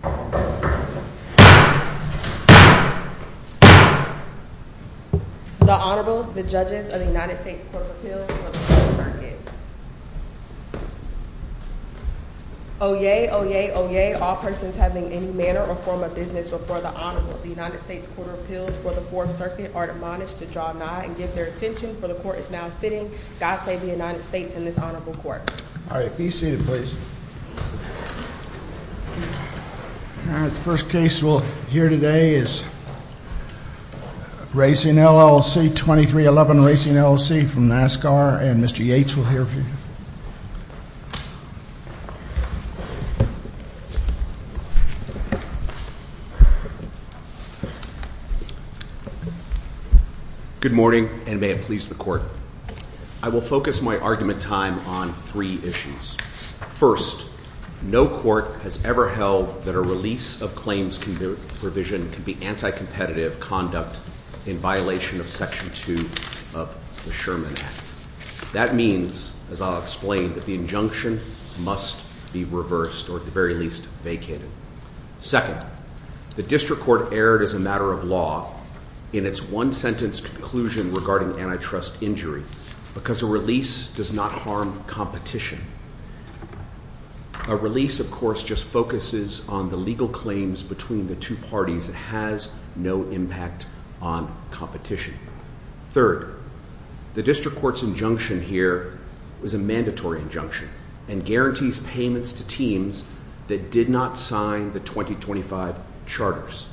The Honorable, the judges of the United States Court of Appeals for the 4th Circuit. Oyez, oyez, oyez, all persons having any manner or form of business before the Honorable, the United States Court of Appeals for the 4th Circuit are admonished to draw nigh and give their attention, for the Court is now sitting. God save the United States and this Honorable Court. All right, be seated, please. All right, the first case we'll hear today is Racing LLC, 2311 Racing LLC from NASCAR, and Mr. Yates will hear for you. Good morning, and may it please the Court. I will focus my argument time on three issues. First, no court has ever held that a release of claims provision can be anticompetitive conduct in violation of Section 2 of the Sherman Act. That means, as I'll explain, that the injunction must be reversed or at the very least vacated. Second, the district court erred as a matter of law in its one-sentence conclusion regarding antitrust injury because a release does not harm competition. A release, of course, just focuses on the legal claims between the two parties. It has no impact on competition. Third, the district court's injunction here is a mandatory injunction and guarantees payments to teams that did not sign the 2025 charters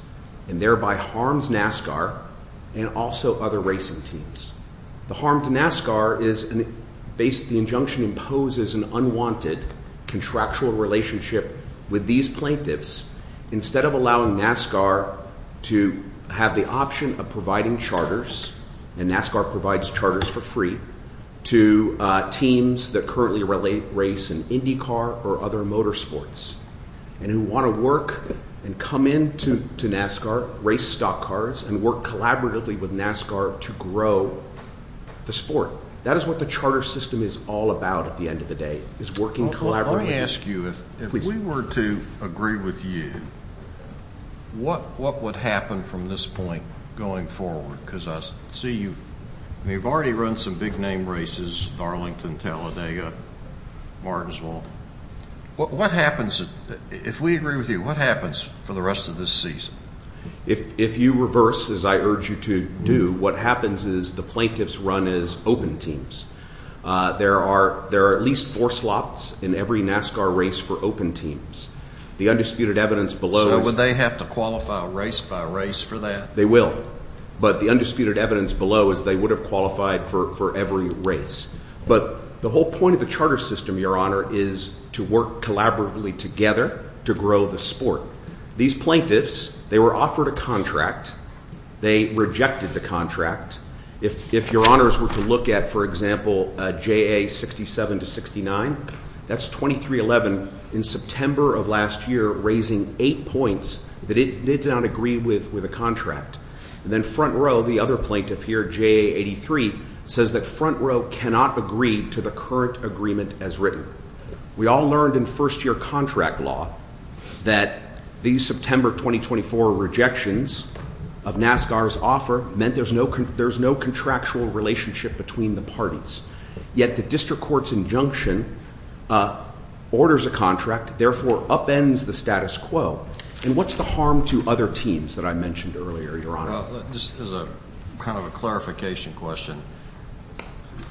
and thereby harms NASCAR and also other racing teams. The harm to NASCAR is the injunction imposes an unwanted contractual relationship with these plaintiffs instead of allowing NASCAR to have the option of providing charters, and NASCAR provides charters for free, to teams that currently race in IndyCar or other motor sports and who want to work and come in to NASCAR, race stock cars, and work collaboratively with NASCAR to grow the sport. That is what the charter system is all about at the end of the day, is working collaboratively. If we were to agree with you, what would happen from this point going forward? Because I see you've already run some big-name races, Darlington, Talladega, Martinsville. If we agree with you, what happens for the rest of this season? If you reverse, as I urge you to do, what happens is the plaintiffs run as open teams. There are at least four slots in every NASCAR race for open teams. The undisputed evidence below is… So would they have to qualify race by race for that? They will, but the undisputed evidence below is they would have qualified for every race. But the whole point of the charter system, Your Honor, is to work collaboratively together to grow the sport. These plaintiffs, they were offered a contract. They rejected the contract. If Your Honors were to look at, for example, JA 67 to 69, that's 2311 in September of last year, raising eight points that it did not agree with a contract. And then front row, the other plaintiff here, JA 83, says that front row cannot agree to the current agreement as written. We all learned in first year contract law that the September 2024 rejections of NASCAR's offer meant there's no contractual relationship between the parties. Yet the district court's injunction orders a contract, therefore upends the status quo. And what's the harm to other teams that I mentioned earlier, Your Honor? This is kind of a clarification question.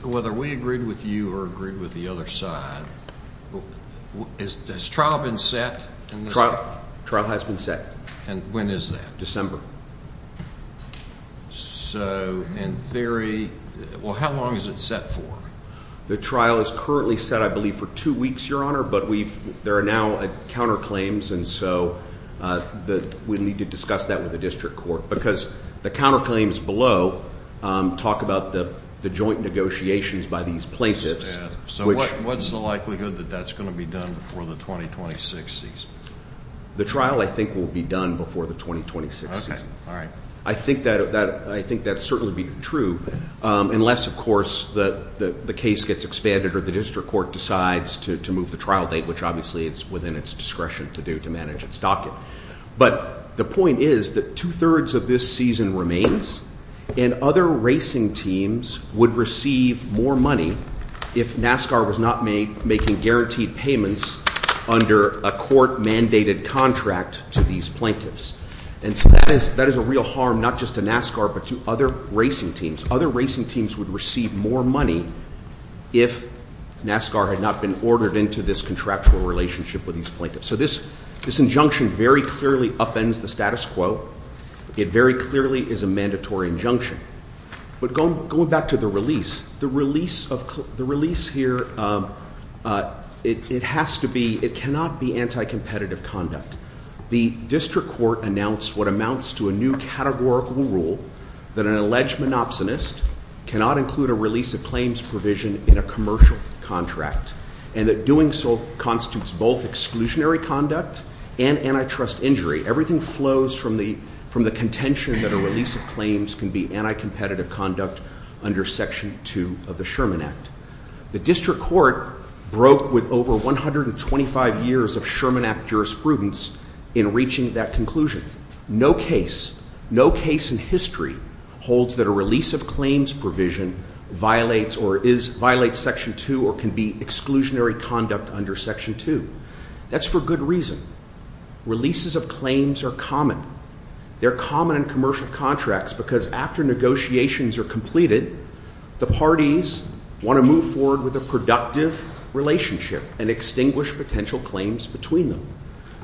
Whether we agreed with you or agreed with the other side, has trial been set? Trial has been set. And when is that? December. So in theory, well, how long is it set for? The trial is currently set, I believe, for two weeks, Your Honor, but there are now counterclaims, and so we need to discuss that with the district court. Because the counterclaims below talk about the joint negotiations by these plaintiffs. So what's the likelihood that that's going to be done before the 2026 season? The trial, I think, will be done before the 2026 season. Okay. All right. I think that's certainly true, unless, of course, the case gets expanded or the district court decides to move the trial date, which obviously it's within its discretion to do to manage its docket. But the point is that two-thirds of this season remains, and other racing teams would receive more money if NASCAR was not making guaranteed payments under a court-mandated contract to these plaintiffs. And so that is a real harm not just to NASCAR but to other racing teams. Other racing teams would receive more money if NASCAR had not been ordered into this contractual relationship with these plaintiffs. So this injunction very clearly upends the status quo. It very clearly is a mandatory injunction. But going back to the release, the release here, it has to be, it cannot be anti-competitive conduct. The district court announced what amounts to a new categorical rule that an alleged monopsonist cannot include a release of claims provision in a commercial contract, and that doing so constitutes both exclusionary conduct and antitrust injury. Everything flows from the contention that a release of claims can be anti-competitive conduct under Section 2 of the Sherman Act. The district court broke with over 125 years of Sherman Act jurisprudence in reaching that conclusion. No case, no case in history holds that a release of claims provision violates or is, violates Section 2 or can be exclusionary conduct under Section 2. That's for good reason. Releases of claims are common. They're common in commercial contracts because after negotiations are completed, the parties want to move forward with a productive relationship and extinguish potential claims between them.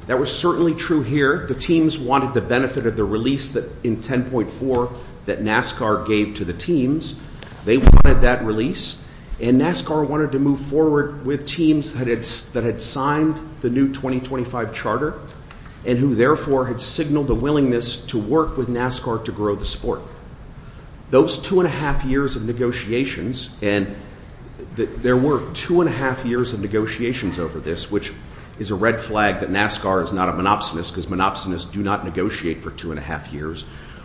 That was certainly true here. The teams wanted the benefit of the release in 10.4 that NASCAR gave to the teams. They wanted that release, and NASCAR wanted to move forward with teams that had signed the new 2025 charter and who, therefore, had signaled a willingness to work with NASCAR to grow the sport. Those two and a half years of negotiations, and there were two and a half years of negotiations over this, which is a red flag that NASCAR is not a monopsonist because monopsonists do not negotiate for two and a half years,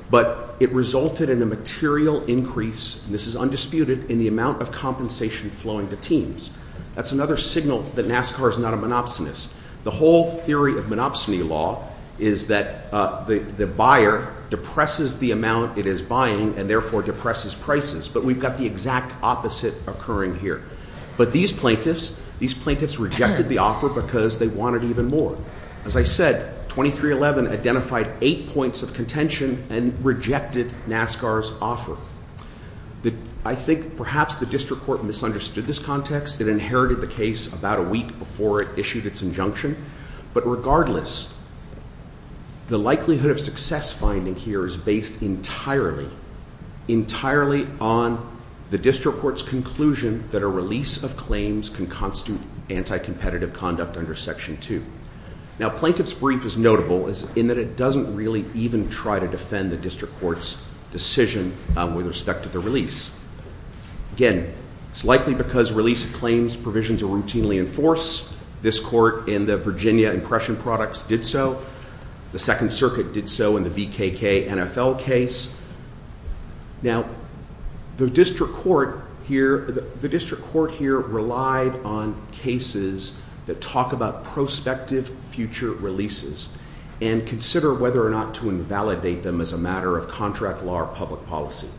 but it resulted in a material increase, and this is undisputed, in the amount of compensation flowing to teams. That's another signal that NASCAR is not a monopsonist. The whole theory of monopsony law is that the buyer depresses the amount it is buying and, therefore, depresses prices, but we've got the exact opposite occurring here. But these plaintiffs, these plaintiffs rejected the offer because they wanted even more. As I said, 2311 identified eight points of contention and rejected NASCAR's offer. I think perhaps the district court misunderstood this context. It inherited the case about a week before it issued its injunction, but regardless, the likelihood of success finding here is based entirely, entirely on the district court's conclusion that a release of claims can constitute anti-competitive conduct under Section 2. Now, plaintiff's brief is notable in that it doesn't really even try to defend the district court's decision with respect to the release. Again, it's likely because release of claims provisions are routinely enforced. This court in the Virginia Impression Products did so. The Second Circuit did so in the VKK NFL case. Now, the district court here relied on cases that talk about prospective future releases and consider whether or not to invalidate them as a matter of contract law or public policy.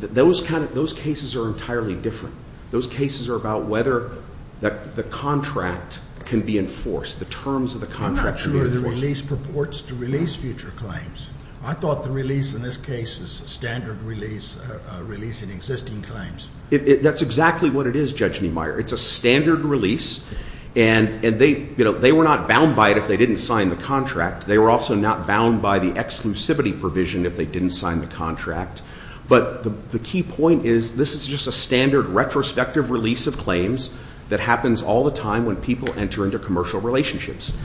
Those cases are entirely different. Those cases are about whether the contract can be enforced, the terms of the contract can be enforced. I'm not sure the release purports to release future claims. I thought the release in this case is a standard release in existing claims. That's exactly what it is, Judge Niemeyer. It's a standard release, and they were not bound by it if they didn't sign the contract. They were also not bound by the exclusivity provision if they didn't sign the contract. But the key point is this is just a standard retrospective release of claims that happens all the time when people enter into commercial relationships.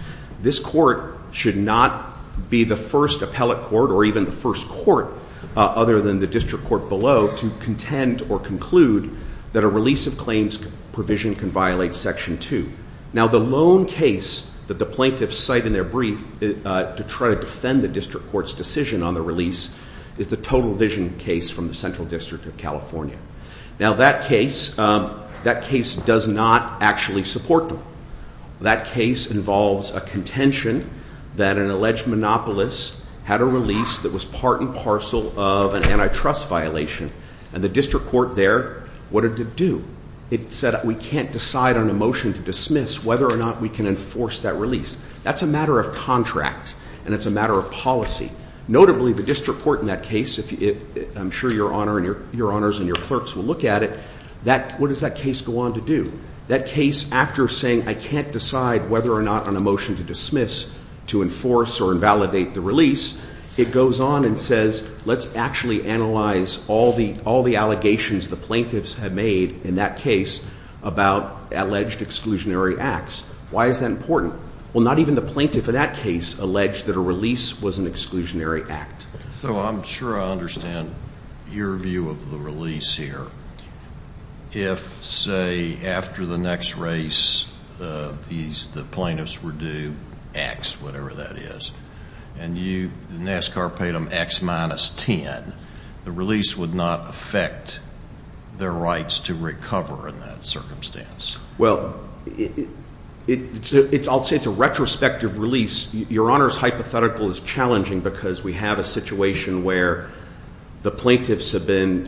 This court should not be the first appellate court or even the first court other than the district court below to contend or conclude that a release of claims provision can violate Section 2. Now, the lone case that the plaintiffs cite in their brief to try to defend the district court's decision on the release is the Total Vision case from the Central District of California. Now, that case does not actually support them. That case involves a contention that an alleged monopolist had a release that was part and parcel of an antitrust violation, and the district court there wanted to do. It said we can't decide on a motion to dismiss whether or not we can enforce that release. That's a matter of contract, and it's a matter of policy. Notably, the district court in that case, I'm sure Your Honors and your clerks will look at it, what does that case go on to do? That case, after saying I can't decide whether or not on a motion to dismiss to enforce or invalidate the release, it goes on and says let's actually analyze all the allegations the plaintiffs have made in that case about alleged exclusionary acts. Why is that important? Well, not even the plaintiff in that case alleged that a release was an exclusionary act. So I'm sure I understand your view of the release here. If, say, after the next race, the plaintiffs were due X, whatever that is, and the NASCAR paid them X minus 10, the release would not affect their rights to recover in that circumstance. Well, I'll say it's a retrospective release. Your Honors, hypothetical is challenging because we have a situation where the plaintiffs have been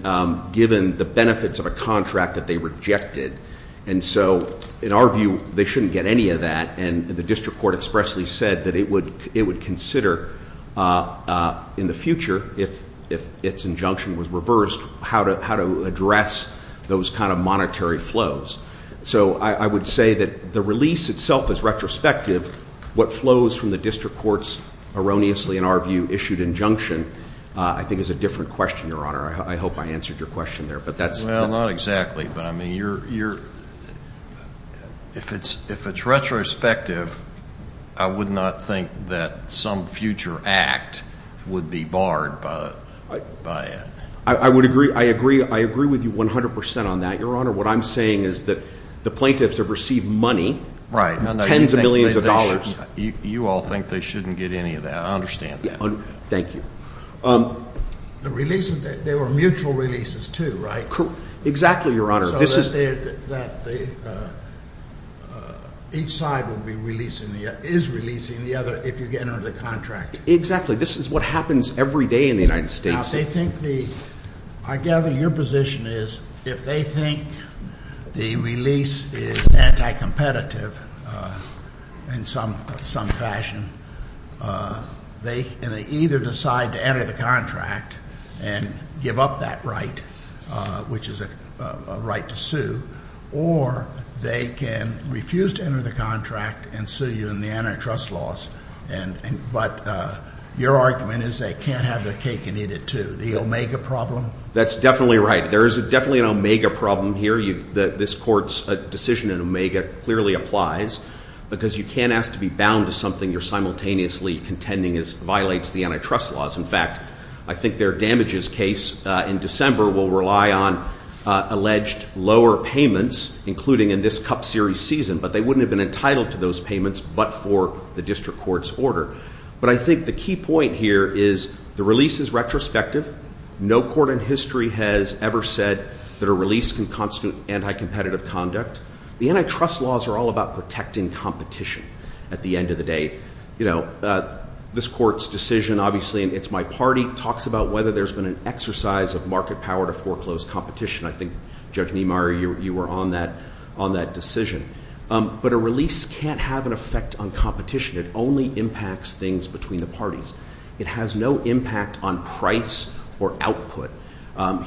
given the benefits of a contract that they rejected. And so in our view, they shouldn't get any of that. And the district court expressly said that it would consider in the future, if its injunction was reversed, how to address those kind of monetary flows. So I would say that the release itself is retrospective. What flows from the district court's erroneously, in our view, issued injunction I think is a different question, Your Honor. I hope I answered your question there. Well, not exactly. But, I mean, if it's retrospective, I would not think that some future act would be barred by it. I agree with you 100 percent on that, Your Honor. What I'm saying is that the plaintiffs have received money, tens of millions of dollars. You all think they shouldn't get any of that. I understand that. Thank you. The release, they were mutual releases too, right? Exactly, Your Honor. So that each side is releasing the other if you get under the contract. Exactly. This is what happens every day in the United States. I gather your position is if they think the release is anti-competitive in some fashion, they either decide to enter the contract and give up that right, which is a right to sue, or they can refuse to enter the contract and sue you in the antitrust laws. But your argument is they can't have their cake and eat it too. The Omega problem? That's definitely right. There is definitely an Omega problem here. This Court's decision in Omega clearly applies, because you can't ask to be bound to something you're simultaneously contending violates the antitrust laws. In fact, I think their damages case in December will rely on alleged lower payments, including in this Cup Series season. But they wouldn't have been entitled to those payments but for the district court's order. But I think the key point here is the release is retrospective. No court in history has ever said that a release can constitute anti-competitive conduct. The antitrust laws are all about protecting competition at the end of the day. This Court's decision, obviously, in It's My Party, talks about whether there's been an exercise of market power to foreclose competition. I think, Judge Niemeyer, you were on that decision. But a release can't have an effect on competition. It only impacts things between the parties. It has no impact on price or output.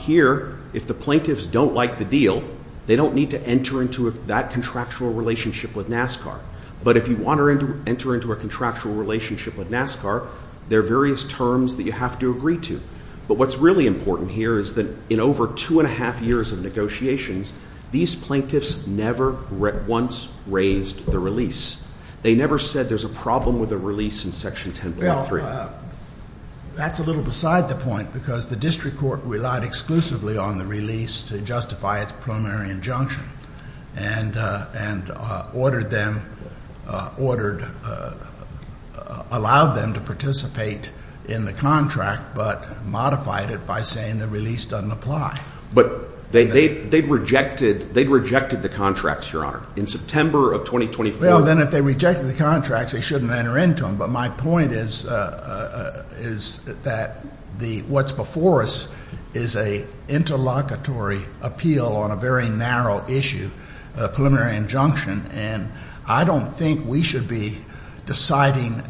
Here, if the plaintiffs don't like the deal, they don't need to enter into that contractual relationship with NASCAR. But if you want to enter into a contractual relationship with NASCAR, there are various terms that you have to agree to. But what's really important here is that in over two and a half years of negotiations, these plaintiffs never once raised the release. They never said there's a problem with a release in Section 10.3. Well, that's a little beside the point, because the district court relied exclusively on the release to justify its primary injunction and ordered them, ordered, allowed them to participate in the contract but modified it by saying the release doesn't apply. But they rejected the contracts, Your Honor, in September of 2024. Well, then if they rejected the contracts, they shouldn't enter into them. But my point is that what's before us is an interlocutory appeal on a very narrow issue, a preliminary injunction, and I don't think we should be deciding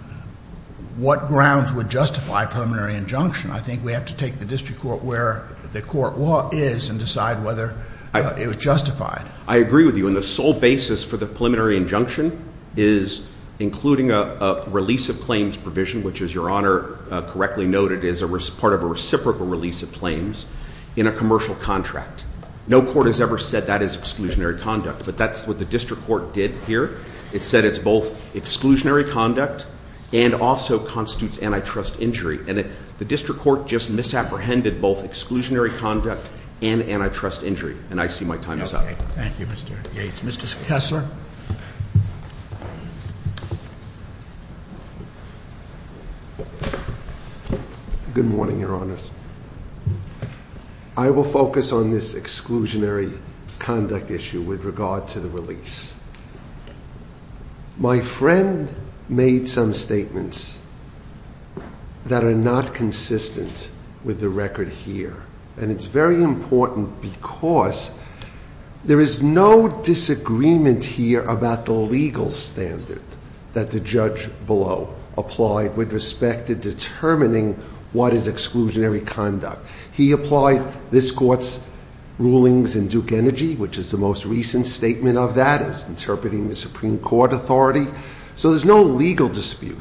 what grounds would justify a preliminary injunction. I think we have to take the district court where the court is and decide whether it would justify it. I agree with you. And the sole basis for the preliminary injunction is including a release of claims provision, which, as Your Honor correctly noted, is part of a reciprocal release of claims in a commercial contract. No court has ever said that is exclusionary conduct, but that's what the district court did here. It said it's both exclusionary conduct and also constitutes antitrust injury. And the district court just misapprehended both exclusionary conduct and antitrust injury. And I see my time is up. Okay. Thank you, Mr. Yates. Mr. Kessler. Good morning, Your Honors. I will focus on this exclusionary conduct issue with regard to the release. My friend made some statements that are not consistent with the record here, and it's very important because there is no disagreement here about the legal standard that the judge below applied with respect to determining what is exclusionary conduct. He applied this court's rulings in Duke Energy, which is the most recent statement of that. It's interpreting the Supreme Court authority. So there's no legal dispute.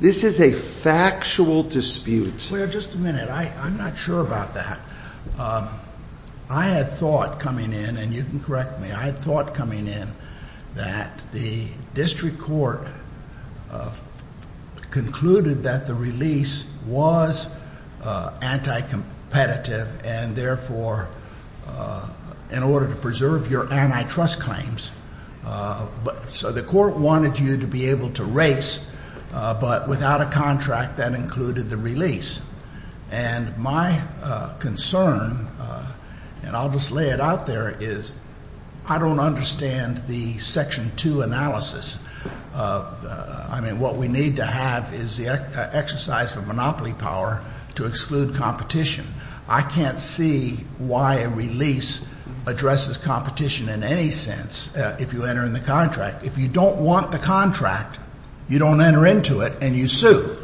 This is a factual dispute. Wait just a minute. I'm not sure about that. I had thought coming in, and you can correct me. I had thought coming in that the district court concluded that the release was anti-competitive, and therefore in order to preserve your antitrust claims. So the court wanted you to be able to race, but without a contract that included the release. And my concern, and I'll just lay it out there, is I don't understand the Section 2 analysis. I mean, what we need to have is the exercise of monopoly power to exclude competition. I can't see why a release addresses competition in any sense if you enter in the contract. If you don't want the contract, you don't enter into it, and you sue.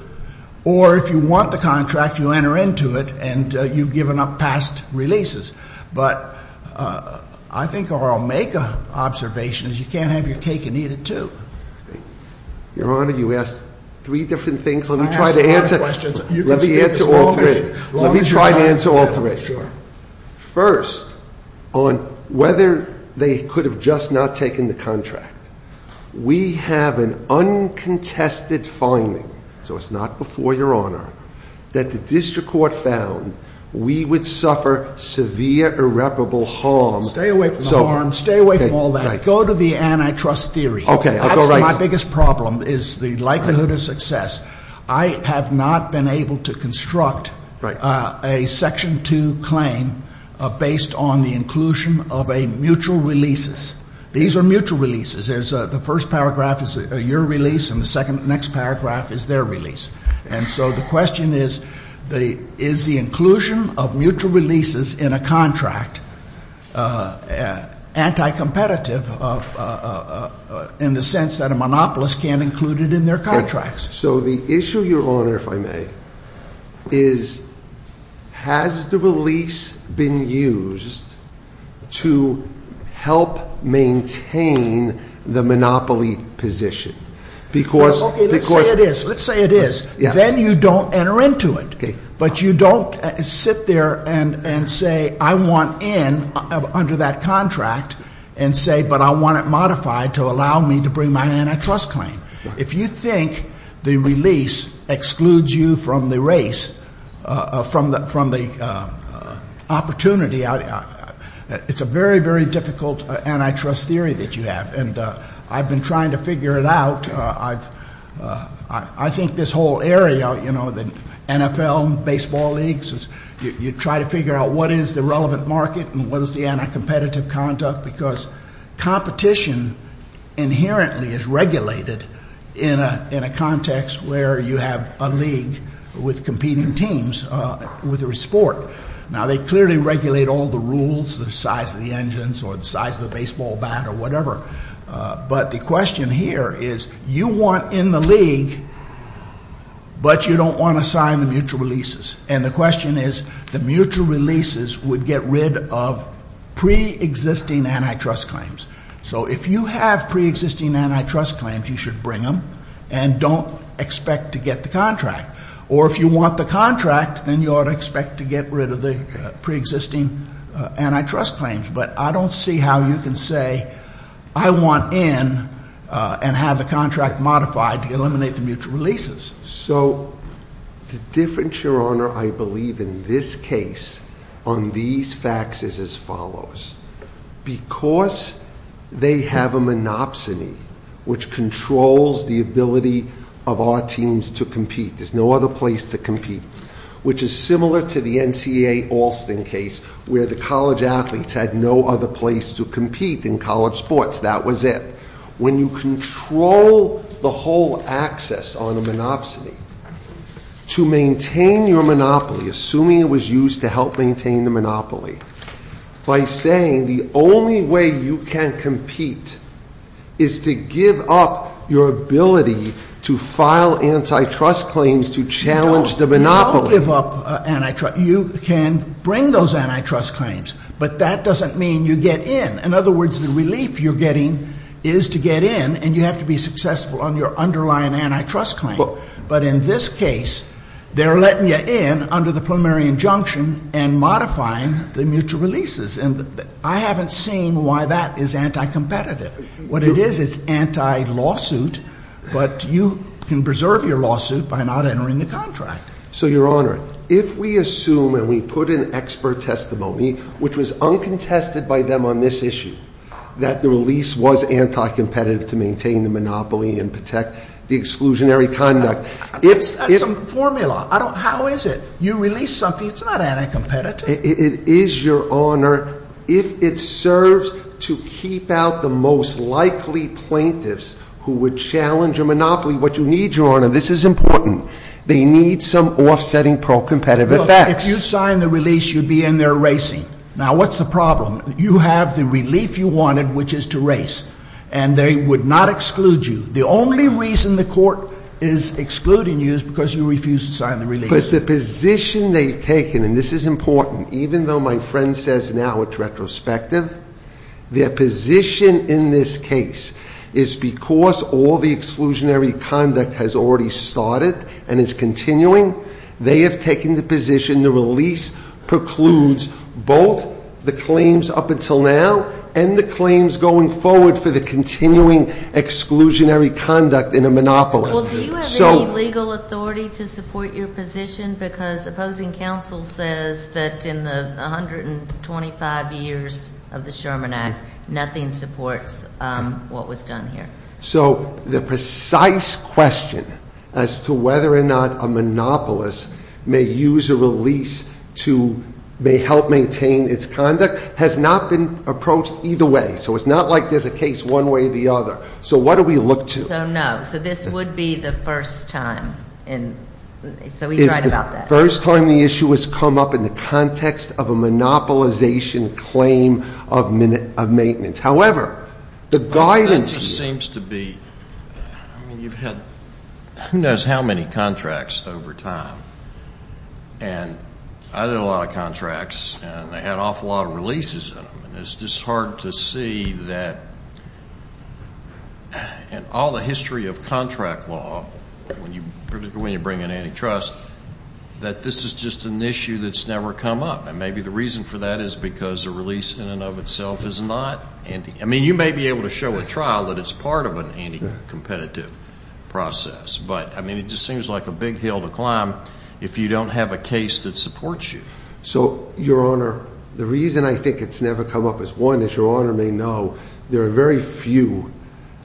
Or if you want the contract, you enter into it, and you've given up past releases. But I think what I'll make an observation is you can't have your cake and eat it too. Your Honor, you asked three different things. Let me try to answer all three. Let me try to answer all three. First, on whether they could have just not taken the contract. We have an uncontested finding. So it's not before your Honor that the district court found we would suffer severe irreparable harm. Stay away from the harm. Stay away from all that. Go to the antitrust theory. Okay, I'll go right to it. That's my biggest problem is the likelihood of success. I have not been able to construct a Section 2 claim based on the inclusion of a mutual releases. These are mutual releases. The first paragraph is your release, and the next paragraph is their release. And so the question is, is the inclusion of mutual releases in a contract anti-competitive in the sense that a monopolist can't include it in their contracts? So the issue, your Honor, if I may, is has the release been used to help maintain the monopoly position? Okay, let's say it is. Let's say it is. Then you don't enter into it. But you don't sit there and say, I want in under that contract and say, but I want it modified to allow me to bring my antitrust claim. If you think the release excludes you from the race, from the opportunity, it's a very, very difficult antitrust theory that you have. And I've been trying to figure it out. I think this whole area, you know, the NFL and baseball leagues, you try to figure out what is the relevant market and what is the anti-competitive conduct, because competition inherently is regulated in a context where you have a league with competing teams with a sport. Now, they clearly regulate all the rules, the size of the engines or the size of the baseball bat or whatever. But the question here is you want in the league, but you don't want to sign the mutual releases. And the question is the mutual releases would get rid of preexisting antitrust claims. So if you have preexisting antitrust claims, you should bring them and don't expect to get the contract. Or if you want the contract, then you ought to expect to get rid of the preexisting antitrust claims. But I don't see how you can say, I want in and have the contract modified to eliminate the mutual releases. So the difference, Your Honor, I believe in this case on these facts is as follows. Because they have a monopsony, which controls the ability of our teams to compete. There's no other place to compete. Which is similar to the NCAA Alston case where the college athletes had no other place to compete in college sports. That was it. When you control the whole access on a monopsony, to maintain your monopoly, assuming it was used to help maintain the monopoly, by saying the only way you can compete is to give up your ability to file antitrust claims to challenge the monopoly. You don't give up antitrust. You can bring those antitrust claims. But that doesn't mean you get in. In other words, the relief you're getting is to get in and you have to be successful on your underlying antitrust claim. But in this case, they're letting you in under the preliminary injunction and modifying the mutual releases. And I haven't seen why that is anti-competitive. What it is, it's anti-lawsuit. But you can preserve your lawsuit by not entering the contract. So, Your Honor, if we assume and we put in expert testimony, which was uncontested by them on this issue, that the release was anti-competitive to maintain the monopoly and protect the exclusionary conduct. That's a formula. How is it? You release something. It's not anti-competitive. It is, Your Honor, if it serves to keep out the most likely plaintiffs who would challenge your monopoly. What you need, Your Honor, this is important. They need some offsetting pro-competitive effects. If you sign the release, you'd be in there racing. Now, what's the problem? You have the relief you wanted, which is to race. And they would not exclude you. The only reason the court is excluding you is because you refused to sign the release. But the position they've taken, and this is important, even though my friend says now it's retrospective, their position in this case is because all the exclusionary conduct has already started and is continuing. They have taken the position the release precludes both the claims up until now and the claims going forward for the continuing exclusionary conduct in a monopolist. Well, do you have any legal authority to support your position? Because opposing counsel says that in the 125 years of the Sherman Act, nothing supports what was done here. So the precise question as to whether or not a monopolist may use a release to help maintain its conduct has not been approached either way. So it's not like there's a case one way or the other. So what do we look to? So no. So this would be the first time. So he's right about that. It's the first time the issue has come up in the context of a monopolization claim of maintenance. However, the guidance is you've had who knows how many contracts over time. And I did a lot of contracts, and they had an awful lot of releases in them. It's just hard to see that in all the history of contract law, particularly when you bring in antitrust, that this is just an issue that's never come up. And maybe the reason for that is because a release in and of itself is not. I mean, you may be able to show a trial that it's part of an anticompetitive process. But, I mean, it just seems like a big hill to climb if you don't have a case that supports you. So, Your Honor, the reason I think it's never come up is, one, as Your Honor may know, there are very few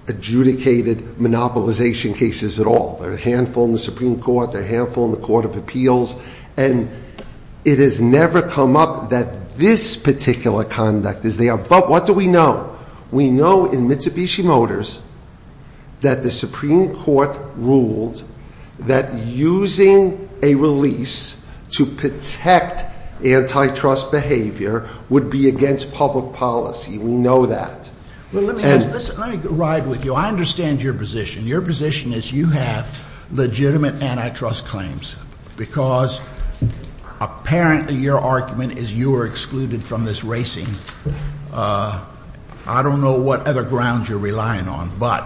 adjudicated monopolization cases at all. There are a handful in the Supreme Court. There are a handful in the Court of Appeals. And it has never come up that this particular conduct is there. But what do we know? We know in Mitsubishi Motors that the Supreme Court ruled that using a release to protect antitrust behavior would be against public policy. We know that. Let me ride with you. I understand your position. Your position is you have legitimate antitrust claims because apparently your argument is you are excluded from this racing. I don't know what other grounds you're relying on. But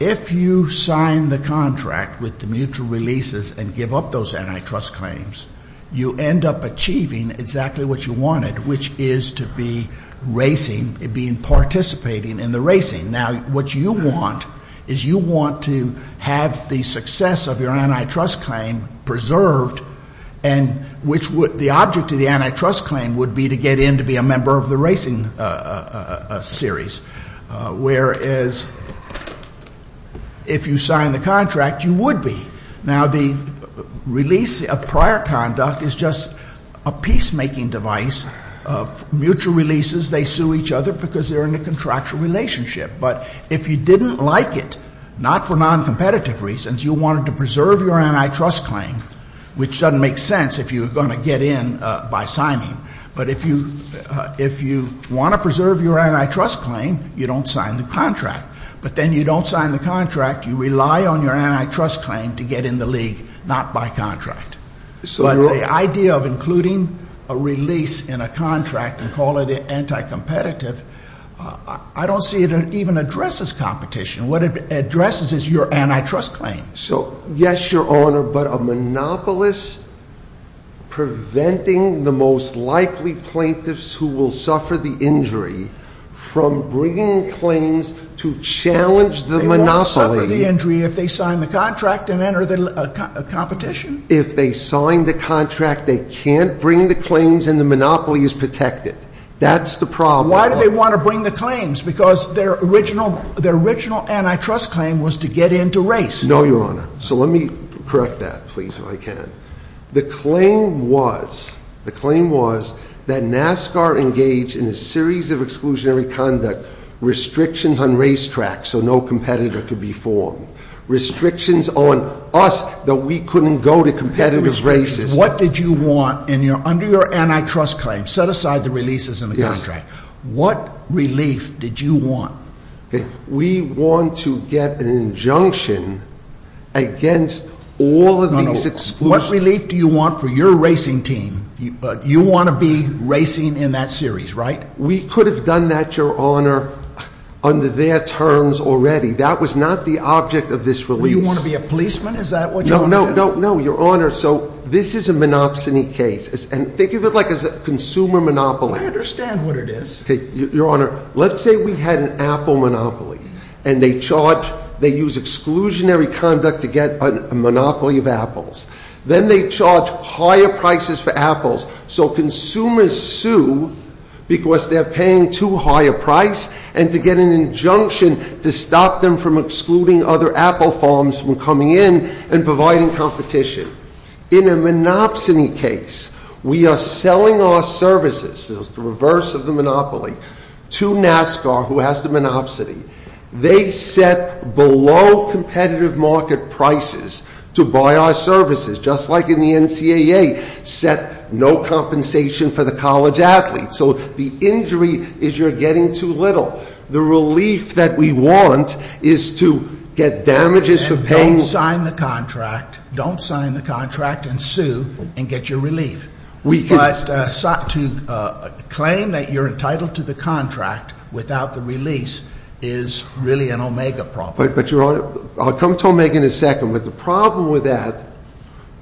if you sign the contract with the mutual releases and give up those antitrust claims, you end up achieving exactly what you wanted, which is to be racing, being participating in the racing. Now, what you want is you want to have the success of your antitrust claim preserved, which the object of the antitrust claim would be to get in to be a member of the racing series, whereas if you sign the contract, you would be. Now, the release of prior conduct is just a peacemaking device. Mutual releases, they sue each other because they're in a contractual relationship. But if you didn't like it, not for noncompetitive reasons, you wanted to preserve your antitrust claim, which doesn't make sense if you were going to get in by signing. But if you want to preserve your antitrust claim, you don't sign the contract. But then you don't sign the contract, you rely on your antitrust claim to get in the league, not by contract. But the idea of including a release in a contract and call it anti-competitive, I don't see it even addresses competition. What it addresses is your antitrust claim. So, yes, Your Honor, but a monopolist preventing the most likely plaintiffs who will suffer the injury from bringing claims to challenge the monopoly. They won't suffer the injury if they sign the contract and enter the competition. If they sign the contract, they can't bring the claims and the monopoly is protected. That's the problem. Why do they want to bring the claims? Because their original antitrust claim was to get into race. No, Your Honor. So let me correct that, please, if I can. The claim was that NASCAR engaged in a series of exclusionary conduct, restrictions on racetracks so no competitor could be formed, restrictions on us that we couldn't go to competitive races. What did you want under your antitrust claim? Set aside the releases in the contract. Yes. What relief did you want? We want to get an injunction against all of these exclusions. No, no. What relief do you want for your racing team? You want to be racing in that series, right? We could have done that, Your Honor, under their terms already. That was not the object of this release. Do you want to be a policeman? Is that what you want to do? No, no, no, Your Honor. So this is a monopsony case. And think of it like a consumer monopoly. I understand what it is. Your Honor, let's say we had an apple monopoly. And they charge, they use exclusionary conduct to get a monopoly of apples. Then they charge higher prices for apples. So consumers sue because they're paying too high a price and to get an injunction to stop them from excluding other apple farms from coming in and providing competition. In a monopsony case, we are selling our services, the reverse of the monopoly, to NASCAR, who has the monopsony. They set below competitive market prices to buy our services, just like in the NCAA, set no compensation for the college athletes. So the injury is you're getting too little. The relief that we want is to get damages for paying. And they sign the contract, don't sign the contract, and sue and get your relief. But to claim that you're entitled to the contract without the release is really an Omega problem. But, Your Honor, I'll come to Omega in a second. But the problem with that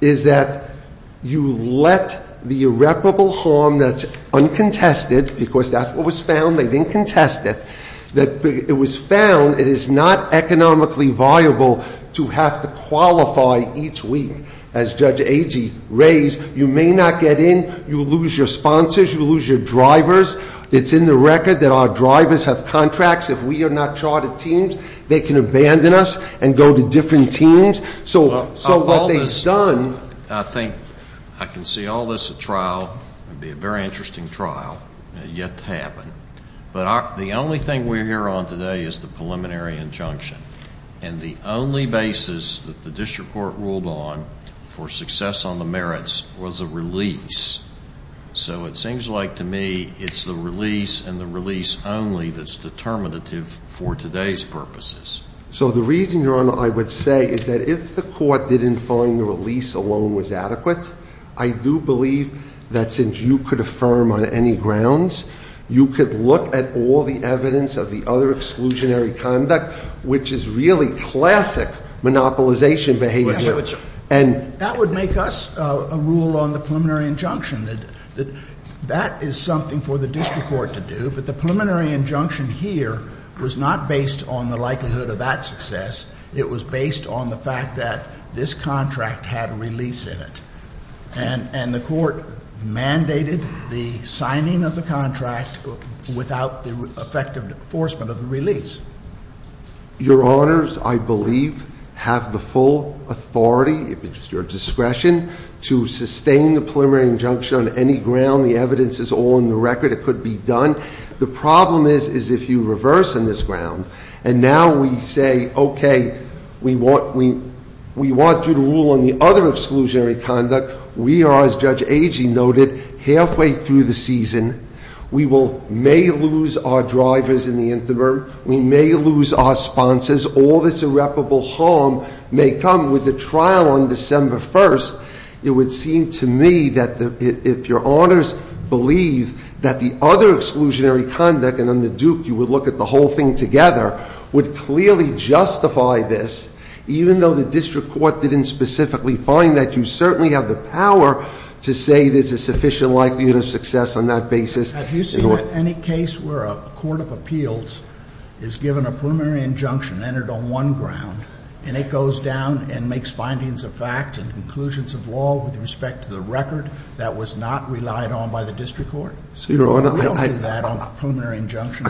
is that you let the irreparable harm that's uncontested, because that's what was found, they didn't contest it, that it was found it is not economically viable to have to qualify each week. As Judge Agee raised, you may not get in, you lose your sponsors, you lose your drivers. It's in the record that our drivers have contracts. If we are not charted teams, they can abandon us and go to different teams. So what they've done ñ I think I can see all this at trial. It would be a very interesting trial yet to happen. But the only thing we're here on today is the preliminary injunction. And the only basis that the district court ruled on for success on the merits was a release. So it seems like to me it's the release and the release only that's determinative for today's purposes. So the reason, Your Honor, I would say is that if the court didn't find the release alone was adequate, I do believe that since you could affirm on any grounds, you could look at all the evidence of the other exclusionary conduct, which is really classic monopolization behavior. That would make us a rule on the preliminary injunction. That is something for the district court to do. But the preliminary injunction here was not based on the likelihood of that success. It was based on the fact that this contract had a release in it. And the court mandated the signing of the contract without the effective enforcement of the release. Your Honors, I believe, have the full authority, if it's your discretion, to sustain the preliminary injunction on any ground. The evidence is all on the record. It could be done. The problem is, is if you reverse on this ground and now we say, okay, we want you to rule on the other exclusionary conduct, we are, as Judge Agee noted, halfway through the season. We may lose our drivers in the interim. We may lose our sponsors. All this irreparable harm may come with the trial on December 1st. It would seem to me that if your Honors believe that the other exclusionary conduct, and under Duke you would look at the whole thing together, would clearly justify this, even though the district court didn't specifically find that, you certainly have the power to say there's a sufficient likelihood of success on that basis. Have you seen any case where a court of appeals is given a preliminary injunction entered on one ground and it goes down and makes findings of fact and conclusions of law with respect to the record that was not relied on by the district court? We don't do that on a preliminary injunction.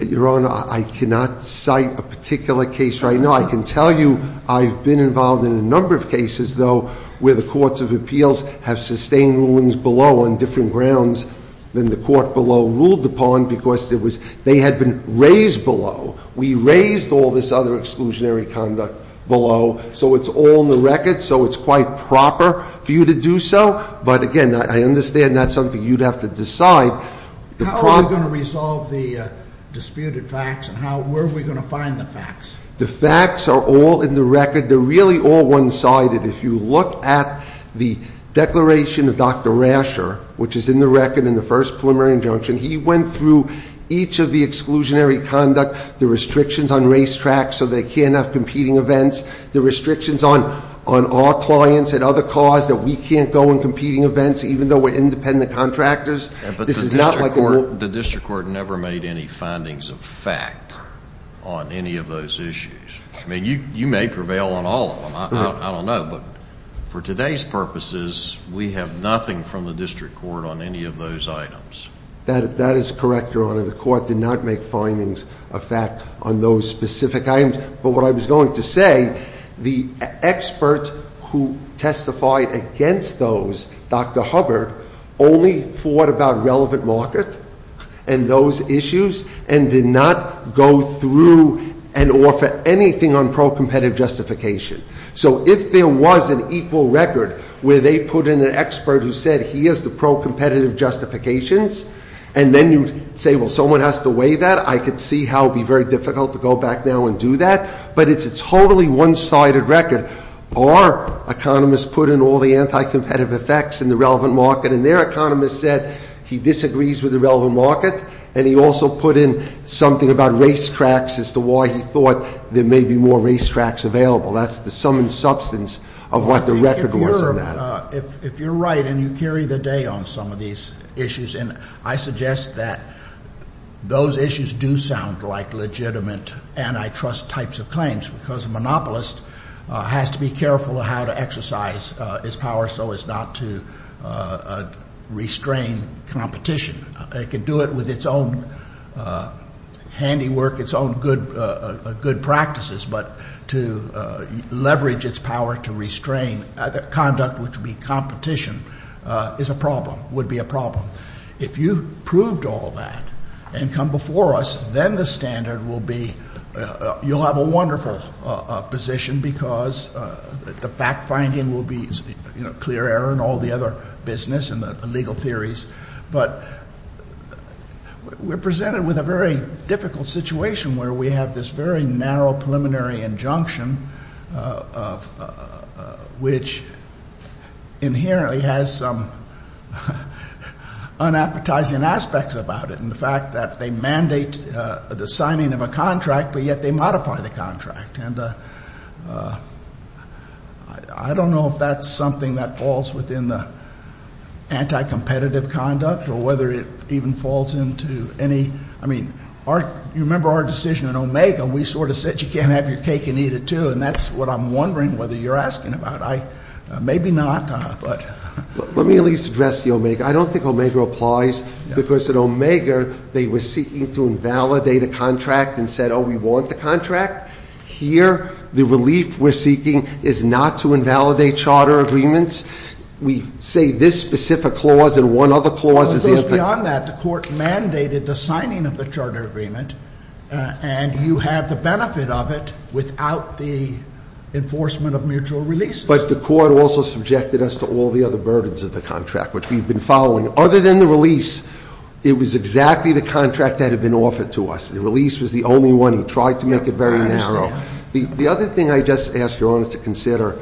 Your Honor, I cannot cite a particular case right now. I can tell you I've been involved in a number of cases, though, where the courts of appeals have sustained rulings below on different grounds than the court below ruled upon because they had been raised below. We raised all this other exclusionary conduct below, so it's all in the record, so it's quite proper for you to do so. But, again, I understand that's something you'd have to decide. How are we going to resolve the disputed facts and where are we going to find the facts? The facts are all in the record. They're really all one-sided. If you look at the declaration of Dr. Rasher, which is in the record in the first preliminary injunction, he went through each of the exclusionary conduct, the restrictions on racetracks so they can't have competing events, the restrictions on our clients and other cars that we can't go in competing events even though we're independent contractors. This is not like a war. The district court never made any findings of fact on any of those issues. I mean, you may prevail on all of them. I don't know. But for today's purposes, we have nothing from the district court on any of those items. That is correct, Your Honor. The court did not make findings of fact on those specific items. But what I was going to say, the expert who testified against those, Dr. Hubbard, only thought about relevant market and those issues and did not go through and offer anything on pro-competitive justification. So if there was an equal record where they put in an expert who said, here's the pro-competitive justifications, and then you say, well, someone has to weigh that, I could see how it would be very difficult to go back now and do that. But it's a totally one-sided record. Our economists put in all the anti-competitive effects in the relevant market, and their economists said he disagrees with the relevant market, and he also put in something about racetracks as to why he thought there may be more racetracks available. That's the sum and substance of what the record was on that. If you're right, and you carry the day on some of these issues, and I suggest that those issues do sound like legitimate antitrust types of claims, because a monopolist has to be careful how to exercise his power so as not to restrain competition. It can do it with its own handiwork, its own good practices, but to leverage its power to restrain conduct which would be competition is a problem, would be a problem. If you proved all that and come before us, then the standard will be you'll have a wonderful position because the fact-finding will be clear error and all the other business and the legal theories. But we're presented with a very difficult situation where we have this very narrow preliminary injunction which inherently has some unappetizing aspects about it. In fact, that they mandate the signing of a contract, but yet they modify the contract. And I don't know if that's something that falls within the anti-competitive conduct or whether it even falls into any, I mean, you remember our decision in Omega, we sort of said you can't have your cake and eat it too, and that's what I'm wondering whether you're asking about. Maybe not. Let me at least address the Omega. I don't think Omega applies because at Omega they were seeking to invalidate a contract and said, no, we want the contract. Here the relief we're seeking is not to invalidate charter agreements. We say this specific clause and one other clause is in it. It goes beyond that. The Court mandated the signing of the charter agreement, and you have the benefit of it without the enforcement of mutual releases. But the Court also subjected us to all the other burdens of the contract, which we've been following. Other than the release, it was exactly the contract that had been offered to us. The release was the only one. He tried to make it very narrow. The other thing I just ask Your Honors to consider,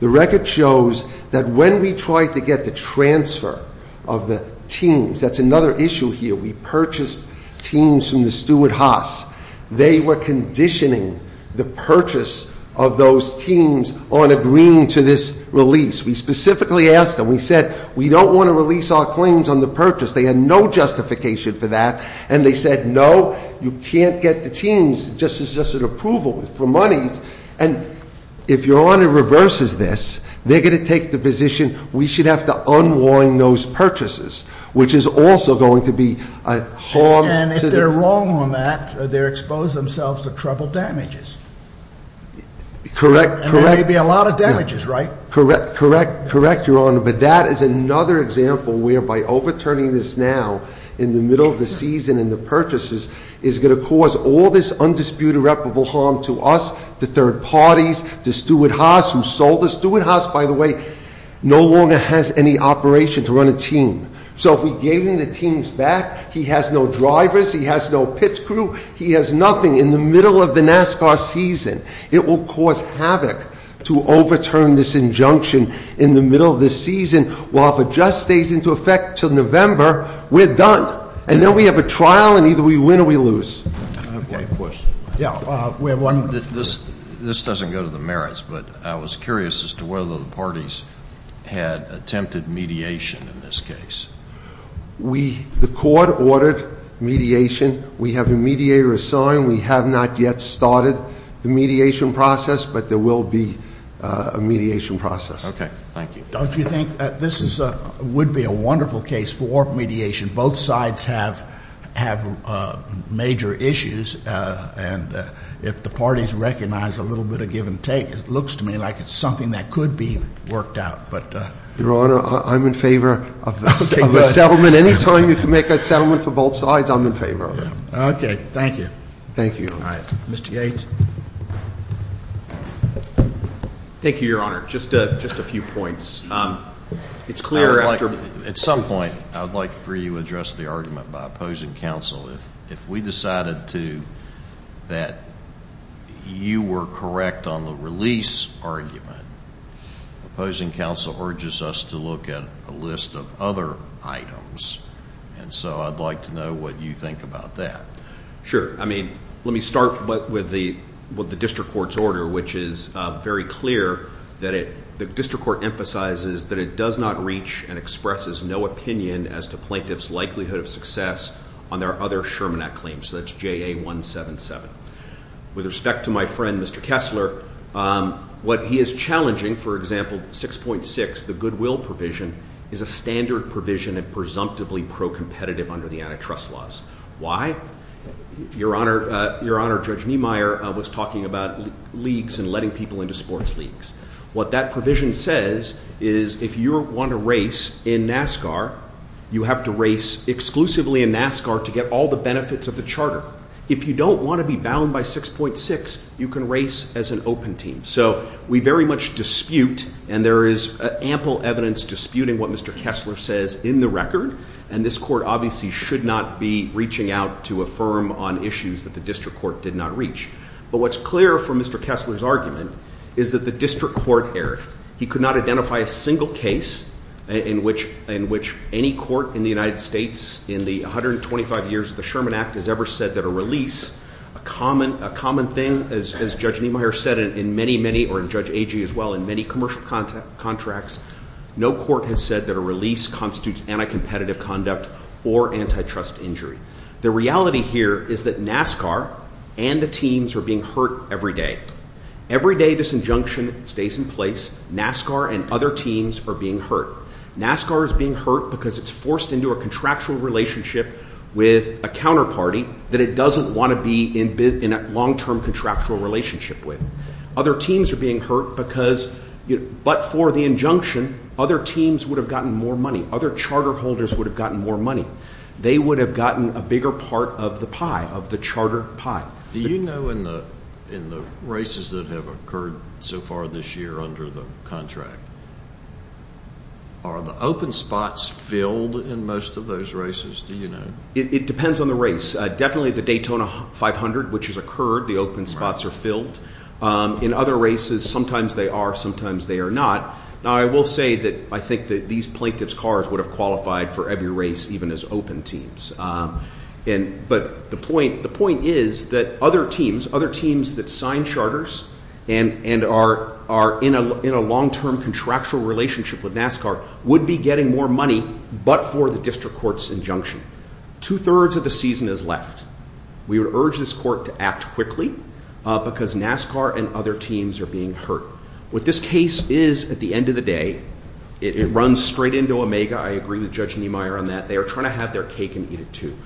the record shows that when we tried to get the transfer of the teams, that's another issue here. We purchased teams from the Stuart Haas. They were conditioning the purchase of those teams on agreeing to this release. We specifically asked them. We said we don't want to release our claims on the purchase. They had no justification for that. And they said, no, you can't get the teams. This is just an approval for money. And if Your Honor reverses this, they're going to take the position we should have to unwind those purchases, which is also going to be a harm to the ---- And if they're wrong on that, they expose themselves to trouble damages. Correct. And there may be a lot of damages, right? Correct. Correct, Your Honor. But that is another example whereby overturning this now, in the middle of the season in the purchases, is going to cause all this undisputed reputable harm to us, the third parties, the Stuart Haas who sold the Stuart Haas, by the way, no longer has any operation to run a team. So if we gave him the teams back, he has no drivers, he has no pit crew, he has nothing. In the middle of the NASCAR season, it will cause havoc to overturn this injunction in the middle of the season, while if it just stays into effect until November, we're done. And then we have a trial, and either we win or we lose. I have one question. Yeah. We have one. This doesn't go to the merits, but I was curious as to whether the parties had attempted mediation in this case. We ---- The court ordered mediation. We have a mediator assigned. We have not yet started the mediation process, but there will be a mediation process. Thank you. Don't you think this would be a wonderful case for mediation? Both sides have major issues, and if the parties recognize a little bit of give and take, it looks to me like it's something that could be worked out. But ---- Your Honor, I'm in favor of a settlement. Anytime you can make a settlement for both sides, I'm in favor of it. Okay. Thank you. Thank you. All right. Mr. Gates? Thank you, Your Honor. Just a few points. It's clear after ---- At some point, I would like for you to address the argument by opposing counsel. If we decided to, that you were correct on the release argument, opposing counsel urges us to look at a list of other items. And so I'd like to know what you think about that. I mean, let me start with the district court's order, which is very clear. The district court emphasizes that it does not reach and expresses no opinion as to plaintiff's likelihood of success on their other Sherman Act claims. So that's JA-177. With respect to my friend, Mr. Kessler, what he is challenging, for example, 6.6, the goodwill provision, is a standard provision and presumptively pro-competitive under the antitrust laws. Why? Your Honor, Judge Niemeyer was talking about leagues and letting people into sports leagues. What that provision says is if you want to race in NASCAR, you have to race exclusively in NASCAR to get all the benefits of the charter. If you don't want to be bound by 6.6, you can race as an open team. So we very much dispute, and there is ample evidence disputing what Mr. Kessler says in the record, and this court obviously should not be reaching out to affirm on issues that the district court did not reach. But what's clear from Mr. Kessler's argument is that the district court erred. He could not identify a single case in which any court in the United States in the 125 years of the Sherman Act has ever said that a release, a common thing, as Judge Niemeyer said in many, many, or in Judge Agee as well, in many commercial contracts, no court has said that a release constitutes anti-competitive conduct or antitrust injury. The reality here is that NASCAR and the teams are being hurt every day. Every day this injunction stays in place. NASCAR and other teams are being hurt. NASCAR is being hurt because it's forced into a contractual relationship with a counterparty that it doesn't want to be in a long-term contractual relationship with. Other teams are being hurt because, but for the injunction, other teams would have gotten more money. Other charter holders would have gotten more money. They would have gotten a bigger part of the pie, of the charter pie. Do you know in the races that have occurred so far this year under the contract, are the open spots filled in most of those races? Do you know? It depends on the race. Definitely the Daytona 500, which has occurred, the open spots are filled. In other races, sometimes they are, sometimes they are not. Now, I will say that I think that these plaintiff's cars would have qualified for every race, even as open teams. But the point is that other teams, other teams that sign charters and are in a long-term contractual relationship with NASCAR, would be getting more money, but for the district court's injunction. Two-thirds of the season is left. We would urge this court to act quickly because NASCAR and other teams are being hurt. What this case is, at the end of the day, it runs straight into Omega. I agree with Judge Niemeyer on that. They are trying to have their cake and eat it too.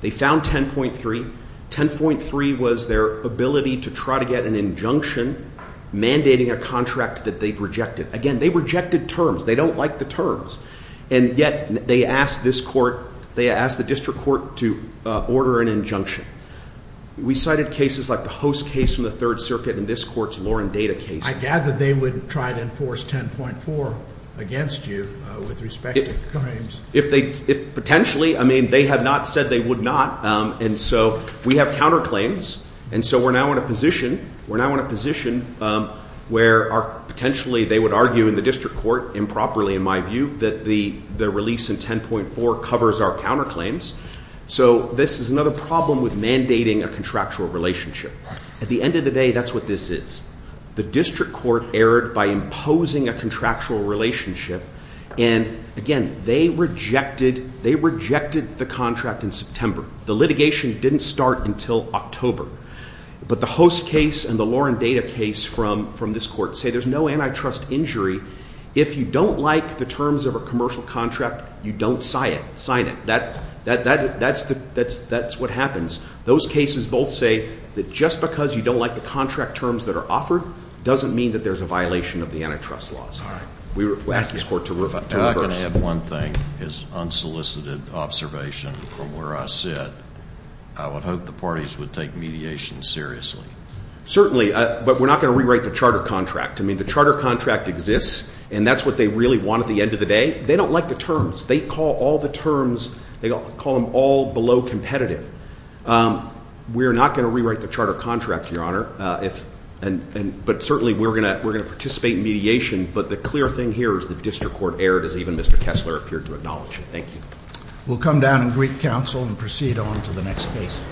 They found 10.3. 10.3 was their ability to try to get an injunction mandating a contract that they've rejected. Again, they rejected terms. They don't like the terms, and yet they asked this court, they asked the district court to order an injunction. We cited cases like the Host case from the Third Circuit and this court's Lauren Data case. I gather they would try to enforce 10.4 against you with respect to the claims. If they, potentially. I mean, they have not said they would not. We have counterclaims, and so we're now in a position where, potentially, they would argue in the district court, improperly in my view, that the release in 10.4 covers our counterclaims. This is another problem with mandating a contractual relationship. At the end of the day, that's what this is. The district court erred by imposing a contractual relationship, and, again, they rejected the contract in September. The litigation didn't start until October. But the Host case and the Lauren Data case from this court say there's no antitrust injury. If you don't like the terms of a commercial contract, you don't sign it. That's what happens. Those cases both say that just because you don't like the contract terms that are offered doesn't mean that there's a violation of the antitrust laws. We asked this court to reverse. If I can add one thing as unsolicited observation from where I sit, I would hope the parties would take mediation seriously. Certainly, but we're not going to rewrite the charter contract. I mean, the charter contract exists, and that's what they really want at the end of the day. They don't like the terms. They call all the terms, they call them all below competitive. We're not going to rewrite the charter contract, Your Honor, but certainly we're going to participate in mediation. But the clear thing here is the district court erred as even Mr. Kessler appeared to acknowledge it. Thank you. We'll come down and greet counsel and proceed on to the next case.